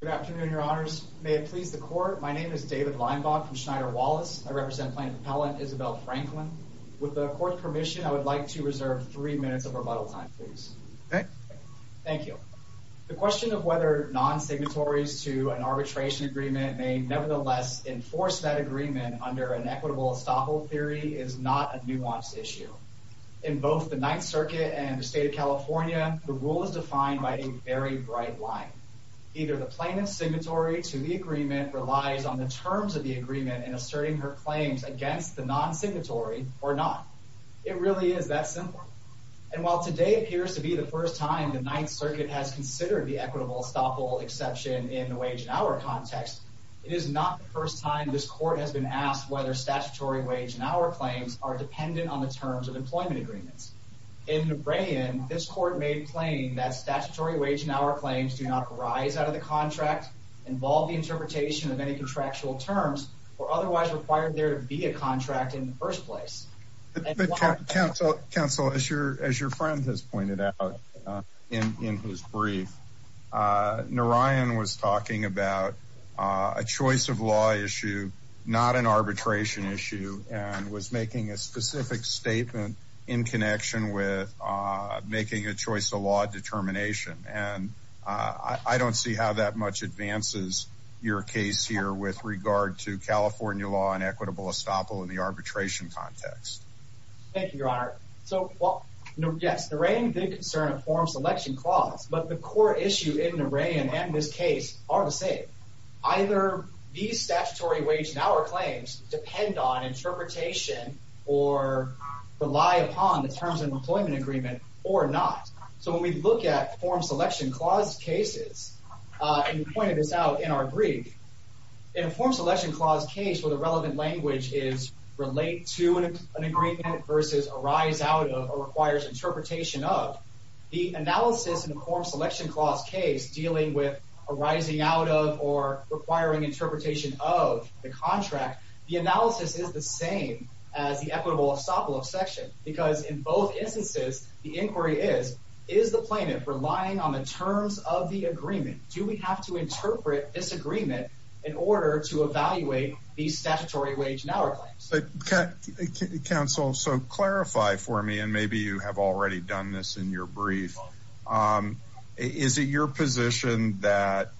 Good afternoon, Your Honors. May it please the court. My name is David Leinbach from Schneider Wallace. I represent Plaintiff Appellant Isabel Franklin. With the court permission, I would like to reserve three minutes of rebuttal time, please. Thank you. The question of whether non signatories to an arbitration agreement may nevertheless enforce that agreement under an equitable estoppel theory is not a nuanced issue. In both the Ninth Circuit and the state of California, the rule is defined by a very bright line. Either the plaintiff's signatory to the agreement relies on the terms of the agreement and asserting her claims against the non signatory or not. It really is that simple. And while today appears to be the first time the Ninth Circuit has considered the equitable estoppel exception in the wage and hour context, it is not the first time this court has been asked whether statutory wage and hour claims are dependent on the terms of employment agreements. In other words, do not arise out of the contract, involve the interpretation of any contractual terms, or otherwise required there to be a contract in the first place. Counsel, as your friend has pointed out in his brief, Narayan was talking about a choice of law issue, not an arbitration issue, and was making a specific statement in connection with making a choice of law determination. And I don't see how that much advances your case here with regard to California law and equitable estoppel in the arbitration context. Thank you, Your Honor. So, yes, Narayan did concern a form selection clause, but the core issue in Narayan and this case are the same. Either these statutory wage and hour claims depend on interpretation or rely upon the employment agreement or not. So when we look at form selection clause cases, and you pointed this out in our brief, in a form selection clause case where the relevant language is relate to an agreement versus arise out of or requires interpretation of, the analysis in a form selection clause case dealing with arising out of or requiring interpretation of the contract, the inquiry is, is the plaintiff relying on the terms of the agreement? Do we have to interpret this agreement in order to evaluate the statutory wage and hour claims? Counsel, so clarify for me, and maybe you have already done this in your brief. Is it your position that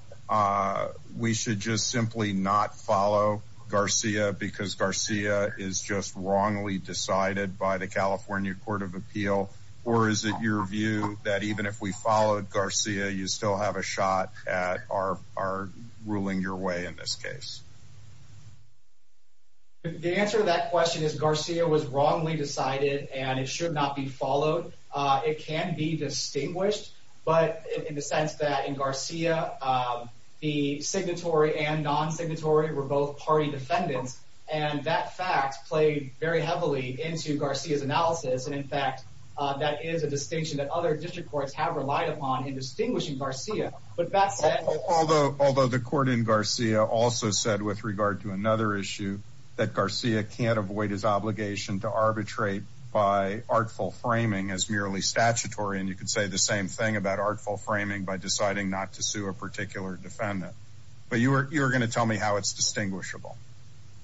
we should just simply not follow Garcia because Garcia is just wrongly decided by the California Court of Appeal? Or is it your view that even if we followed Garcia, you still have a shot at our ruling your way in this case? The answer to that question is Garcia was wrongly decided, and it should not be followed. It can be distinguished, but in the sense that in Garcia, the and that fact played very heavily into Garcia's analysis. And in fact, that is a distinction that other district courts have relied upon in distinguishing Garcia. But that said, although although the court in Garcia also said with regard to another issue that Garcia can't avoid his obligation to arbitrate by artful framing as merely statutory, and you could say the same thing about artful framing by deciding not to sue a particular defendant. But you're going to tell me how it's distinguishable.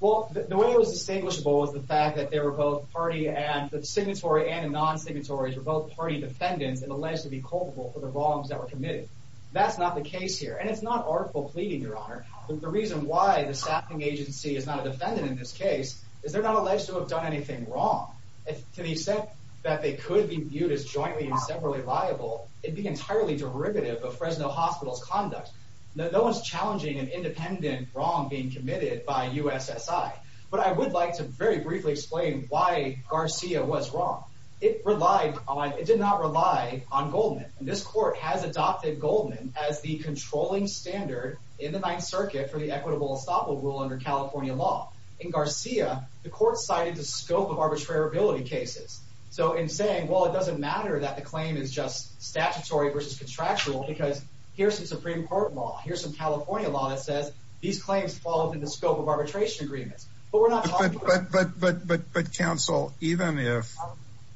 Well, the way it was distinguishable was the fact that they were both party and the signatory and non signatories were both party defendants and alleged to be culpable for the wrongs that were committed. That's not the case here, and it's not artful pleading, Your Honor. The reason why the staffing agency is not a defendant in this case is they're not alleged to have done anything wrong. To the extent that they could be viewed as jointly and separately liable, it'd be entirely derivative of Fresno Hospital's conduct. No one's challenging an independent wrong being committed by U. S. S. I. But I would like to very briefly explain why Garcia was wrong. It relied on. It did not rely on Goldman. This court has adopted Goldman as the controlling standard in the Ninth Circuit for the equitable estoppel rule under California law. In Garcia, the court cited the scope of arbitrarability cases. So in saying, Well, it doesn't matter that the claim is just statutory versus contractual, because here's the Supreme Court law. Here's some California law that says these claims fall into the scope of arbitration agreements. But we're not, but but but but but counsel, even if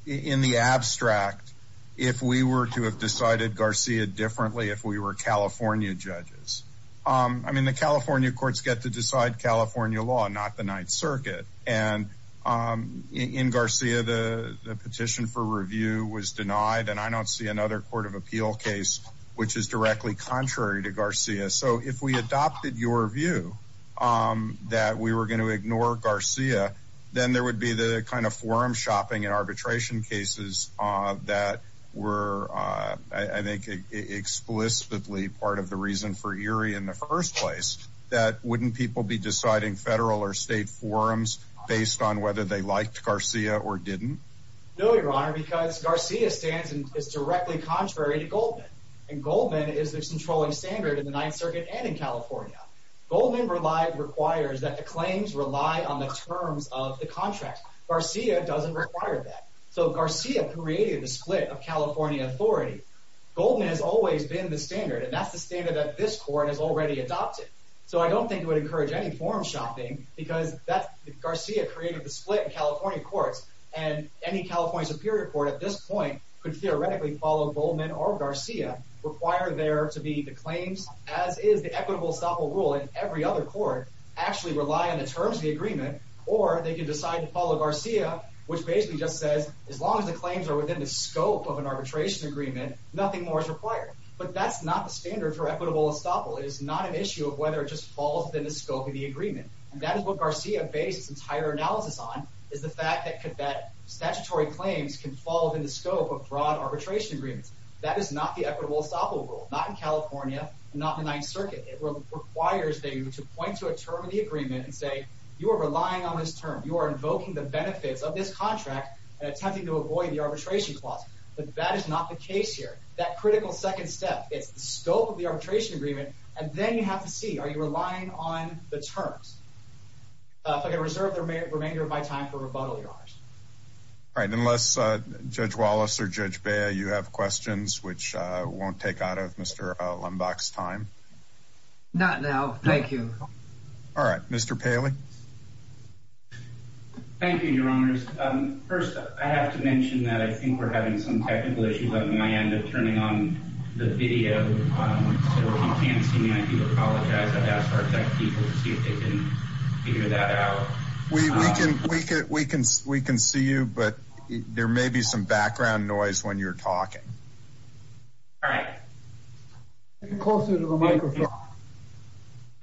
in the abstract, if we were to have decided Garcia differently, if we were California judges, I mean, the California courts get to decide California law, not the Ninth Circuit. And, um, in Garcia, the petition for see another court of appeal case, which is directly contrary to Garcia. So if we adopted your view, um, that we were going to ignore Garcia, then there would be the kind of forum shopping and arbitration cases that were, uh, I think, explicitly part of the reason for Erie in the first place that wouldn't people be deciding federal or state forums based on whether they directly contrary to Goldman. And Goldman is the controlling standard in the Ninth Circuit and in California. Goldman relied requires that the claims rely on the terms of the contract. Garcia doesn't require that. So Garcia created the split of California authority. Goldman has always been the standard, and that's the standard that this court has already adopted. So I don't think it would encourage any forum shopping because that Garcia created the split California courts and any California Superior Court at this point could theoretically follow Goldman or Garcia require there to be the claims, as is the equitable stopper ruling. Every other court actually rely on the terms of the agreement, or they could decide to follow Garcia, which basically just says, as long as the claims are within the scope of an arbitration agreement, nothing more is required. But that's not the standard for equitable. Estoppel is not an issue of whether it just falls within the scope of the agreement. That is what Garcia based entire analysis on is the fact that that statutory claims can fall within the scope of broad arbitration agreements. That is not the equitable Estoppel rule, not in California, not the Ninth Circuit. It requires that you point to a term of the agreement and say, you are relying on this term. You are invoking the benefits of this contract and attempting to avoid the arbitration clause. But that is not the case here. That critical second step, it's the scope of the arbitration agreement, and then you have to see, are you relying on the terms? If I can reserve the remainder of my time for rebuttal, your honors. All right, unless Judge Wallace or Judge Bayer, you have questions which won't take out of Mr Lumbach's time. Not now. Thank you. All right, Mr Paley. Thank you, Your Honors. First, I have to mention that I think we're having some technical issues on my end of turning on the video. Working fancy. I do apologize. I've asked our tech people to see if they can figure that out. We can. We can. We can. We can see you, but there may be some background noise when you're talking. All right. Closer to the microphone.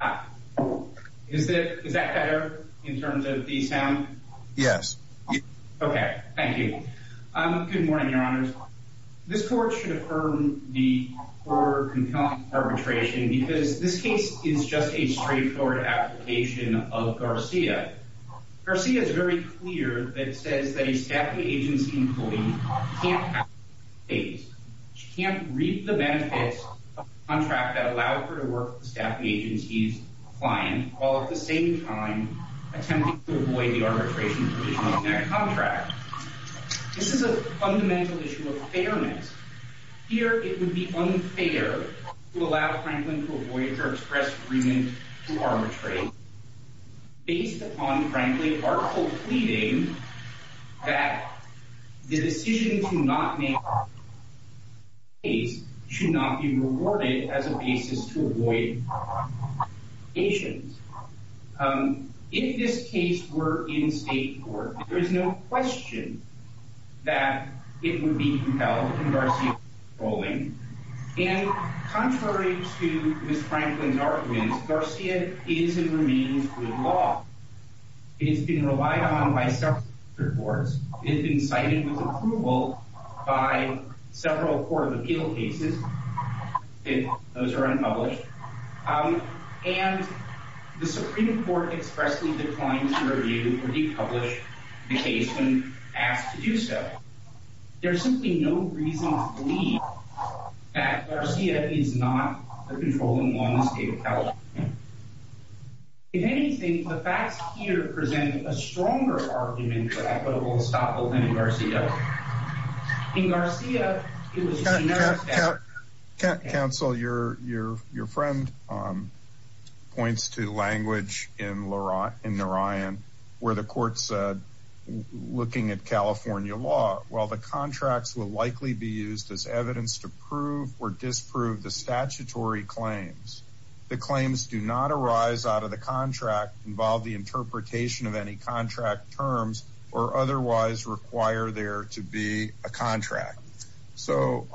Ah, is that is that better in terms of the sound? Yes. Okay. Thank you. Good court should affirm the poor compelling arbitration because this case is just a straightforward application of Garcia. Garcia is very clear that says that a staffing agency employee can't read the benefits of a contract that allowed her to work with the staffing agency's client while at the same time attempting to avoid the arbitration provision of that contract. This is a fundamental issue of fairness. Here it would be unfair to allow Franklin to avoid her express agreement to arbitrate based upon frankly, article pleading that the decision to not make he's should not be rewarded as a basis to avoid patients. Um, if this case were in state court, there is no question that it would be compelled. Rolling in contrary to Miss Franklin's arguments, Garcia is and remains with law. It's been relied on by separate reports. It's been cited with approval by several court of appeal cases. Those are unpublished. Um, and the Supreme Court expressly declined to review or decouple the case when asked to do so. There's simply no reason to believe that Garcia is not controlling one state account. If anything, the facts here present a stronger argument for equitable stop in Garcia. In Garcia, can't counsel your your your friend, um, points to language in Leroy in the Ryan where the court said, looking at California law, while the contracts will likely be used as evidence to prove or disprove the statutory claims, the claims do not arise out of the contract involved the interpretation of any contract terms or otherwise require there to be a contract. So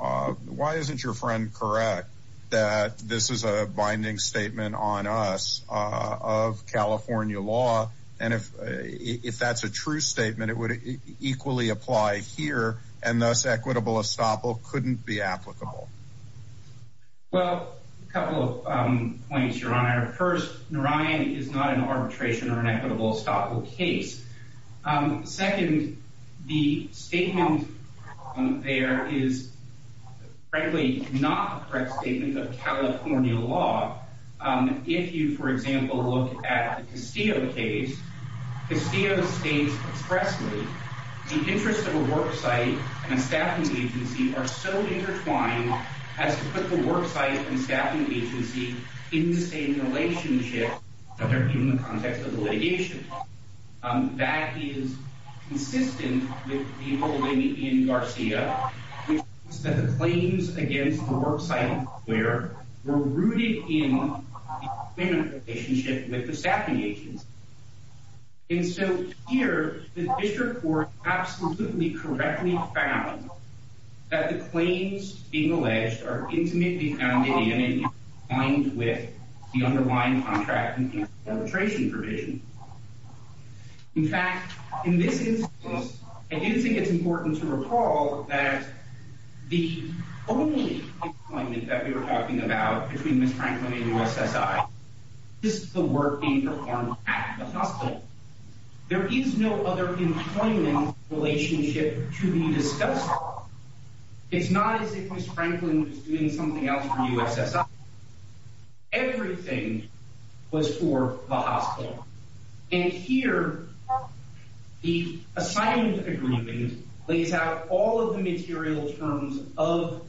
why isn't your friend correct that this is a binding statement on us of California law? And if if that's a true statement, it would equally apply here. And thus, equitable estoppel couldn't be applicable. Well, a couple of points your honor. First, Ryan is not an arbitration or an um, second, the statement there is frankly not correct statement of California law. Um, if you, for example, look at the Castillo case, Castillo states expressly the interest of a work site and a staffing agency are so intertwined as to put the work site and staffing agency in the same relationship. The litigation that is consistent with people in Garcia claims against the work site where we're rooted in a relationship with the staffing agents. And so here, the district court absolutely correctly found that the line contracting arbitration provision. In fact, in this instance, I do think it's important to recall that the only that we were talking about between Miss Franklin and U. S. S. I just the work being performed at the hospital. There is no other employment relationship to be discussed. It's not as if Miss Franklin was doing something else for us. Everything was for the hospital. And here the assignment agreement lays out all of the material terms of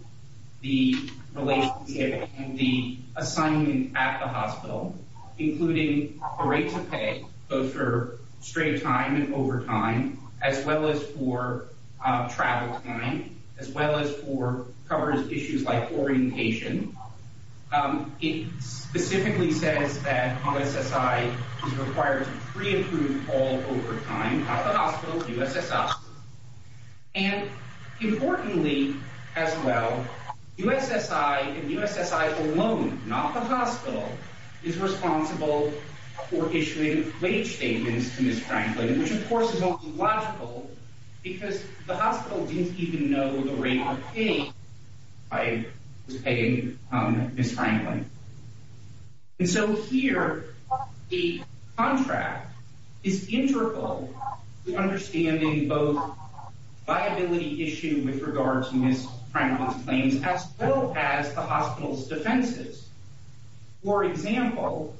the relationship and the assignment at the hospital, including a rate to pay both for straight time and over time, as well as for coverage issues like orientation. Um, it specifically says that U. S. S. I is required to pre approve all over time. The hospital U. S. S. And importantly, as well, U. S. S. I and U. S. S. I alone, not the hospital, is responsible for issuing wage statements to Miss Franklin, which, the hospital didn't even know the rate of pain I was paying Miss Franklin. And so here the contract is integral to understanding both viability issue with regards to Miss Franklin's claims as well as the hospital's defenses. For example,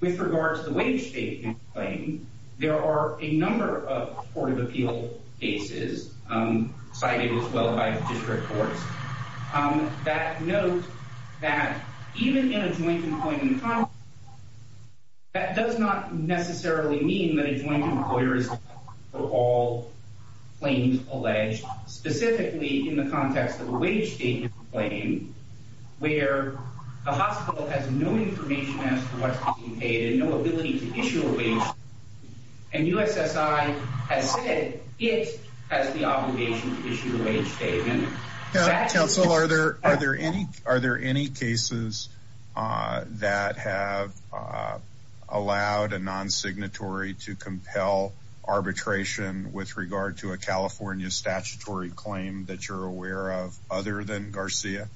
with regards to wage statement claim, there are a number of court of cases cited as well by district courts that note that even in a joint appointment, that does not necessarily mean that a joint employer is for all claims alleged, specifically in the context of a wage statement claim where a hospital has no information as to what's being paid and no ability to it as the obligation issue a statement. Council, are there? Are there any? Are there any cases that have allowed a non signatory to compel arbitration with regard to a California statutory claim that you're aware of other than Garcia?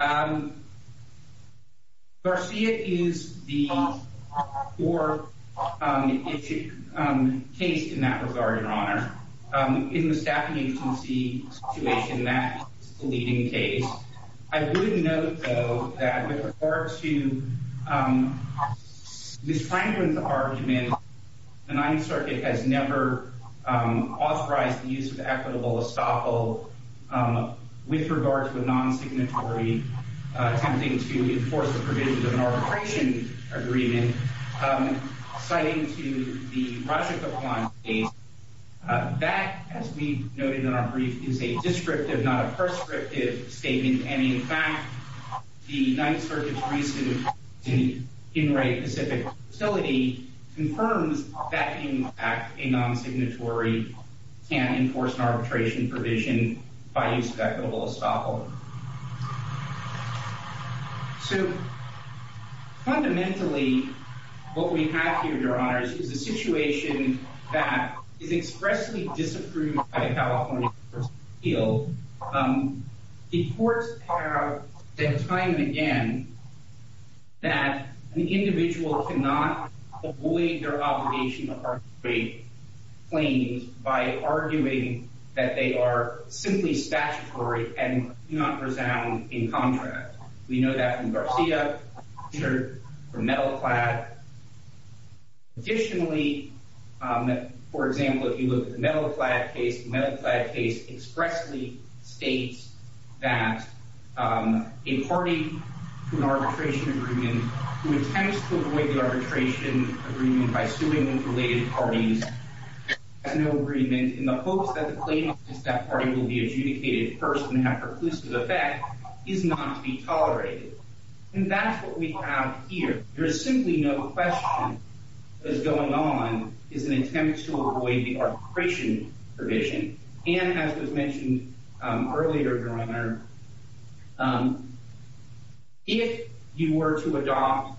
Um, Garcia is the or, um, case in that regard, Your Honor. Um, in the staffing agency situation that leading case, I wouldn't know, though, that with regards to, um, Miss Franklin's argument, the Ninth Circuit has never authorized the equitable estoppel, um, with regards to a non signatory attempting to enforce the provisions of an arbitration agreement. Um, citing to the project upon a that, as we noted in our brief, is a descriptive, not a prescriptive statement. And, in fact, the Ninth Circuit's recent in right Pacific facility confirms that in fact, a non signatory can't enforce an arbitration provision by use of equitable estoppel. So fundamentally, what we have here, Your Honors, is the situation that is expressly disapproved by the California field. Um, the courts are the time again that the individual could not avoid their obligation of our great claims by arguing that they are simply statutory and not resound in contract. We know that from Garcia shirt for metal clad. Additionally, for example, if you look at the metal clad case, metal clad case expressly states that, um, a party arbitration agreement who attempts to avoid arbitration agreement by suing related parties agreement in the hopes that the claim is that party will be adjudicated first and have perclusive effect is not to be tolerated. And that's what we have here. There's simply no question is going on is an attempt to avoid the arbitration provision and as was mentioned earlier, Your Honor, um, if you were to adopt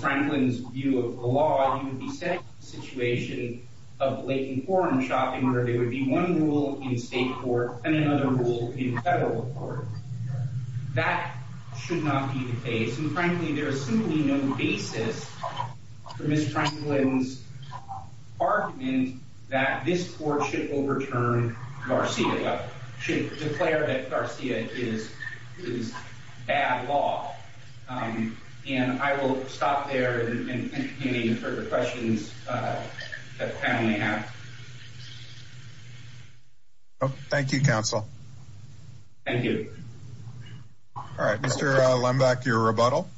Franklin's view of the law, you would be set situation of laking foreign shopping, where they would be one rule in state court and another rule in federal court. That should not be the case. And frankly, there is simply no basis for this court should overturn Garcia should declare that Garcia is is bad law. Um, and I will stop there and any further questions, uh, family have. Oh, thank you, Counsel. Thank you. All right, Mr Lumbach, your rebuttal.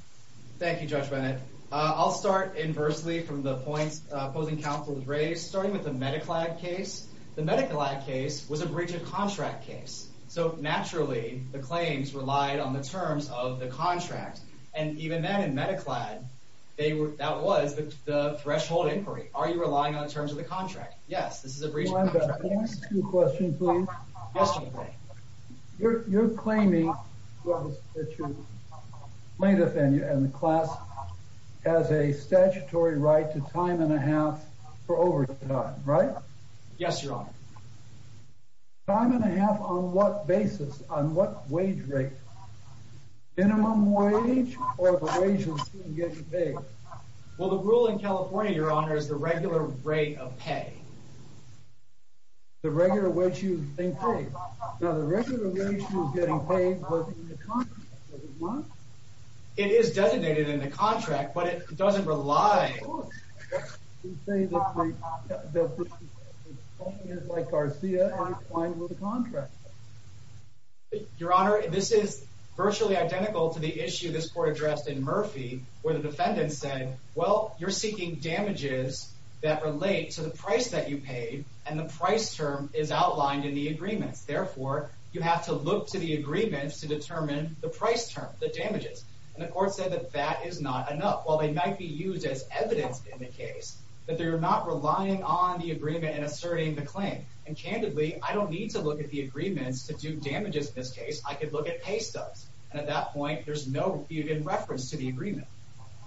Thank you, Judge Bennett. I'll start inversely from the points opposing counsel was raised, starting with the case. The medical case was a breach of contract case. So naturally, the claims relied on the terms of the contract. And even then, in medical ad, they were that was the threshold inquiry. Are you relying on terms of the contract? Yes, this is a breach of the question. You're claiming plaintiff in the class has a statutory right to time and a half for over time, right? Yes, you're on time and a half. On what basis? On what wage rate minimum wage or the wages get big? Well, the rule in California, your honor, is the regular rate of pay the regular way. You think? Now, the regular way she was getting paid. It is designated in the contract, but it doesn't rely on like Garcia. Your honor, this is virtually identical to the issue this court addressed in Murphy, where the defendant said, Well, you're seeking damages that relate to the price that you paid, and the price term is outlined in the agreements. Therefore, you have to look to the agreements to determine the price term, the damages. And the court said that that is not enough. While they might be used as evidence in the case, but they're not relying on the agreement and asserting the claim. And candidly, I don't need to look at the agreements to do damages. In this case, I could look at pay stubs, and at that point there's no even reference to the agreement.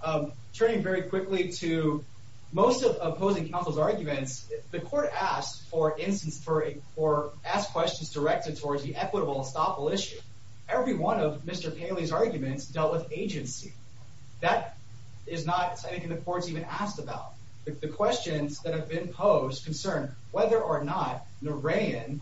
Um, turning very quickly to most of opposing counsel's arguments, the court asked for instance for or ask questions directed towards the equitable estoppel issue. Every one of Mr Paley's arguments dealt with agency. That is not something the court's even asked about. The questions that have been posed concern whether or not the rain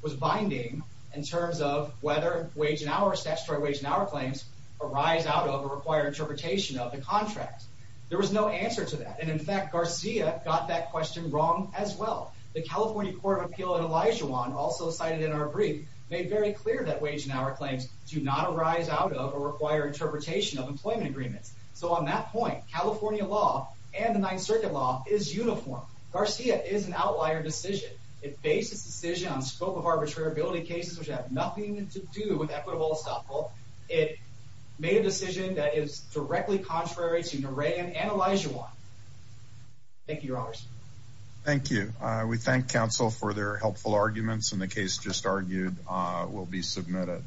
was binding in terms of whether wage and our statutory wage and our claims arise out of a required interpretation of the contract. There was no answer to that. And in fact, Garcia got that question wrong as well. The California Court of Appeal and Elijah Wan also cited in our brief made very clear that wage and our claims do not arise out of a required interpretation of employment agreements. So on that point, California law and the Ninth Circuit law is uniform. Garcia is an outlier decision. It bases decision on scope of arbitraribility cases which have nothing to do with equitable estoppel. It made a decision that is directly contrary to the rain and Elijah one. Thank you, Your Honors. Thank you. We thank counsel for their helpful arguments in the case just argued will be submitted.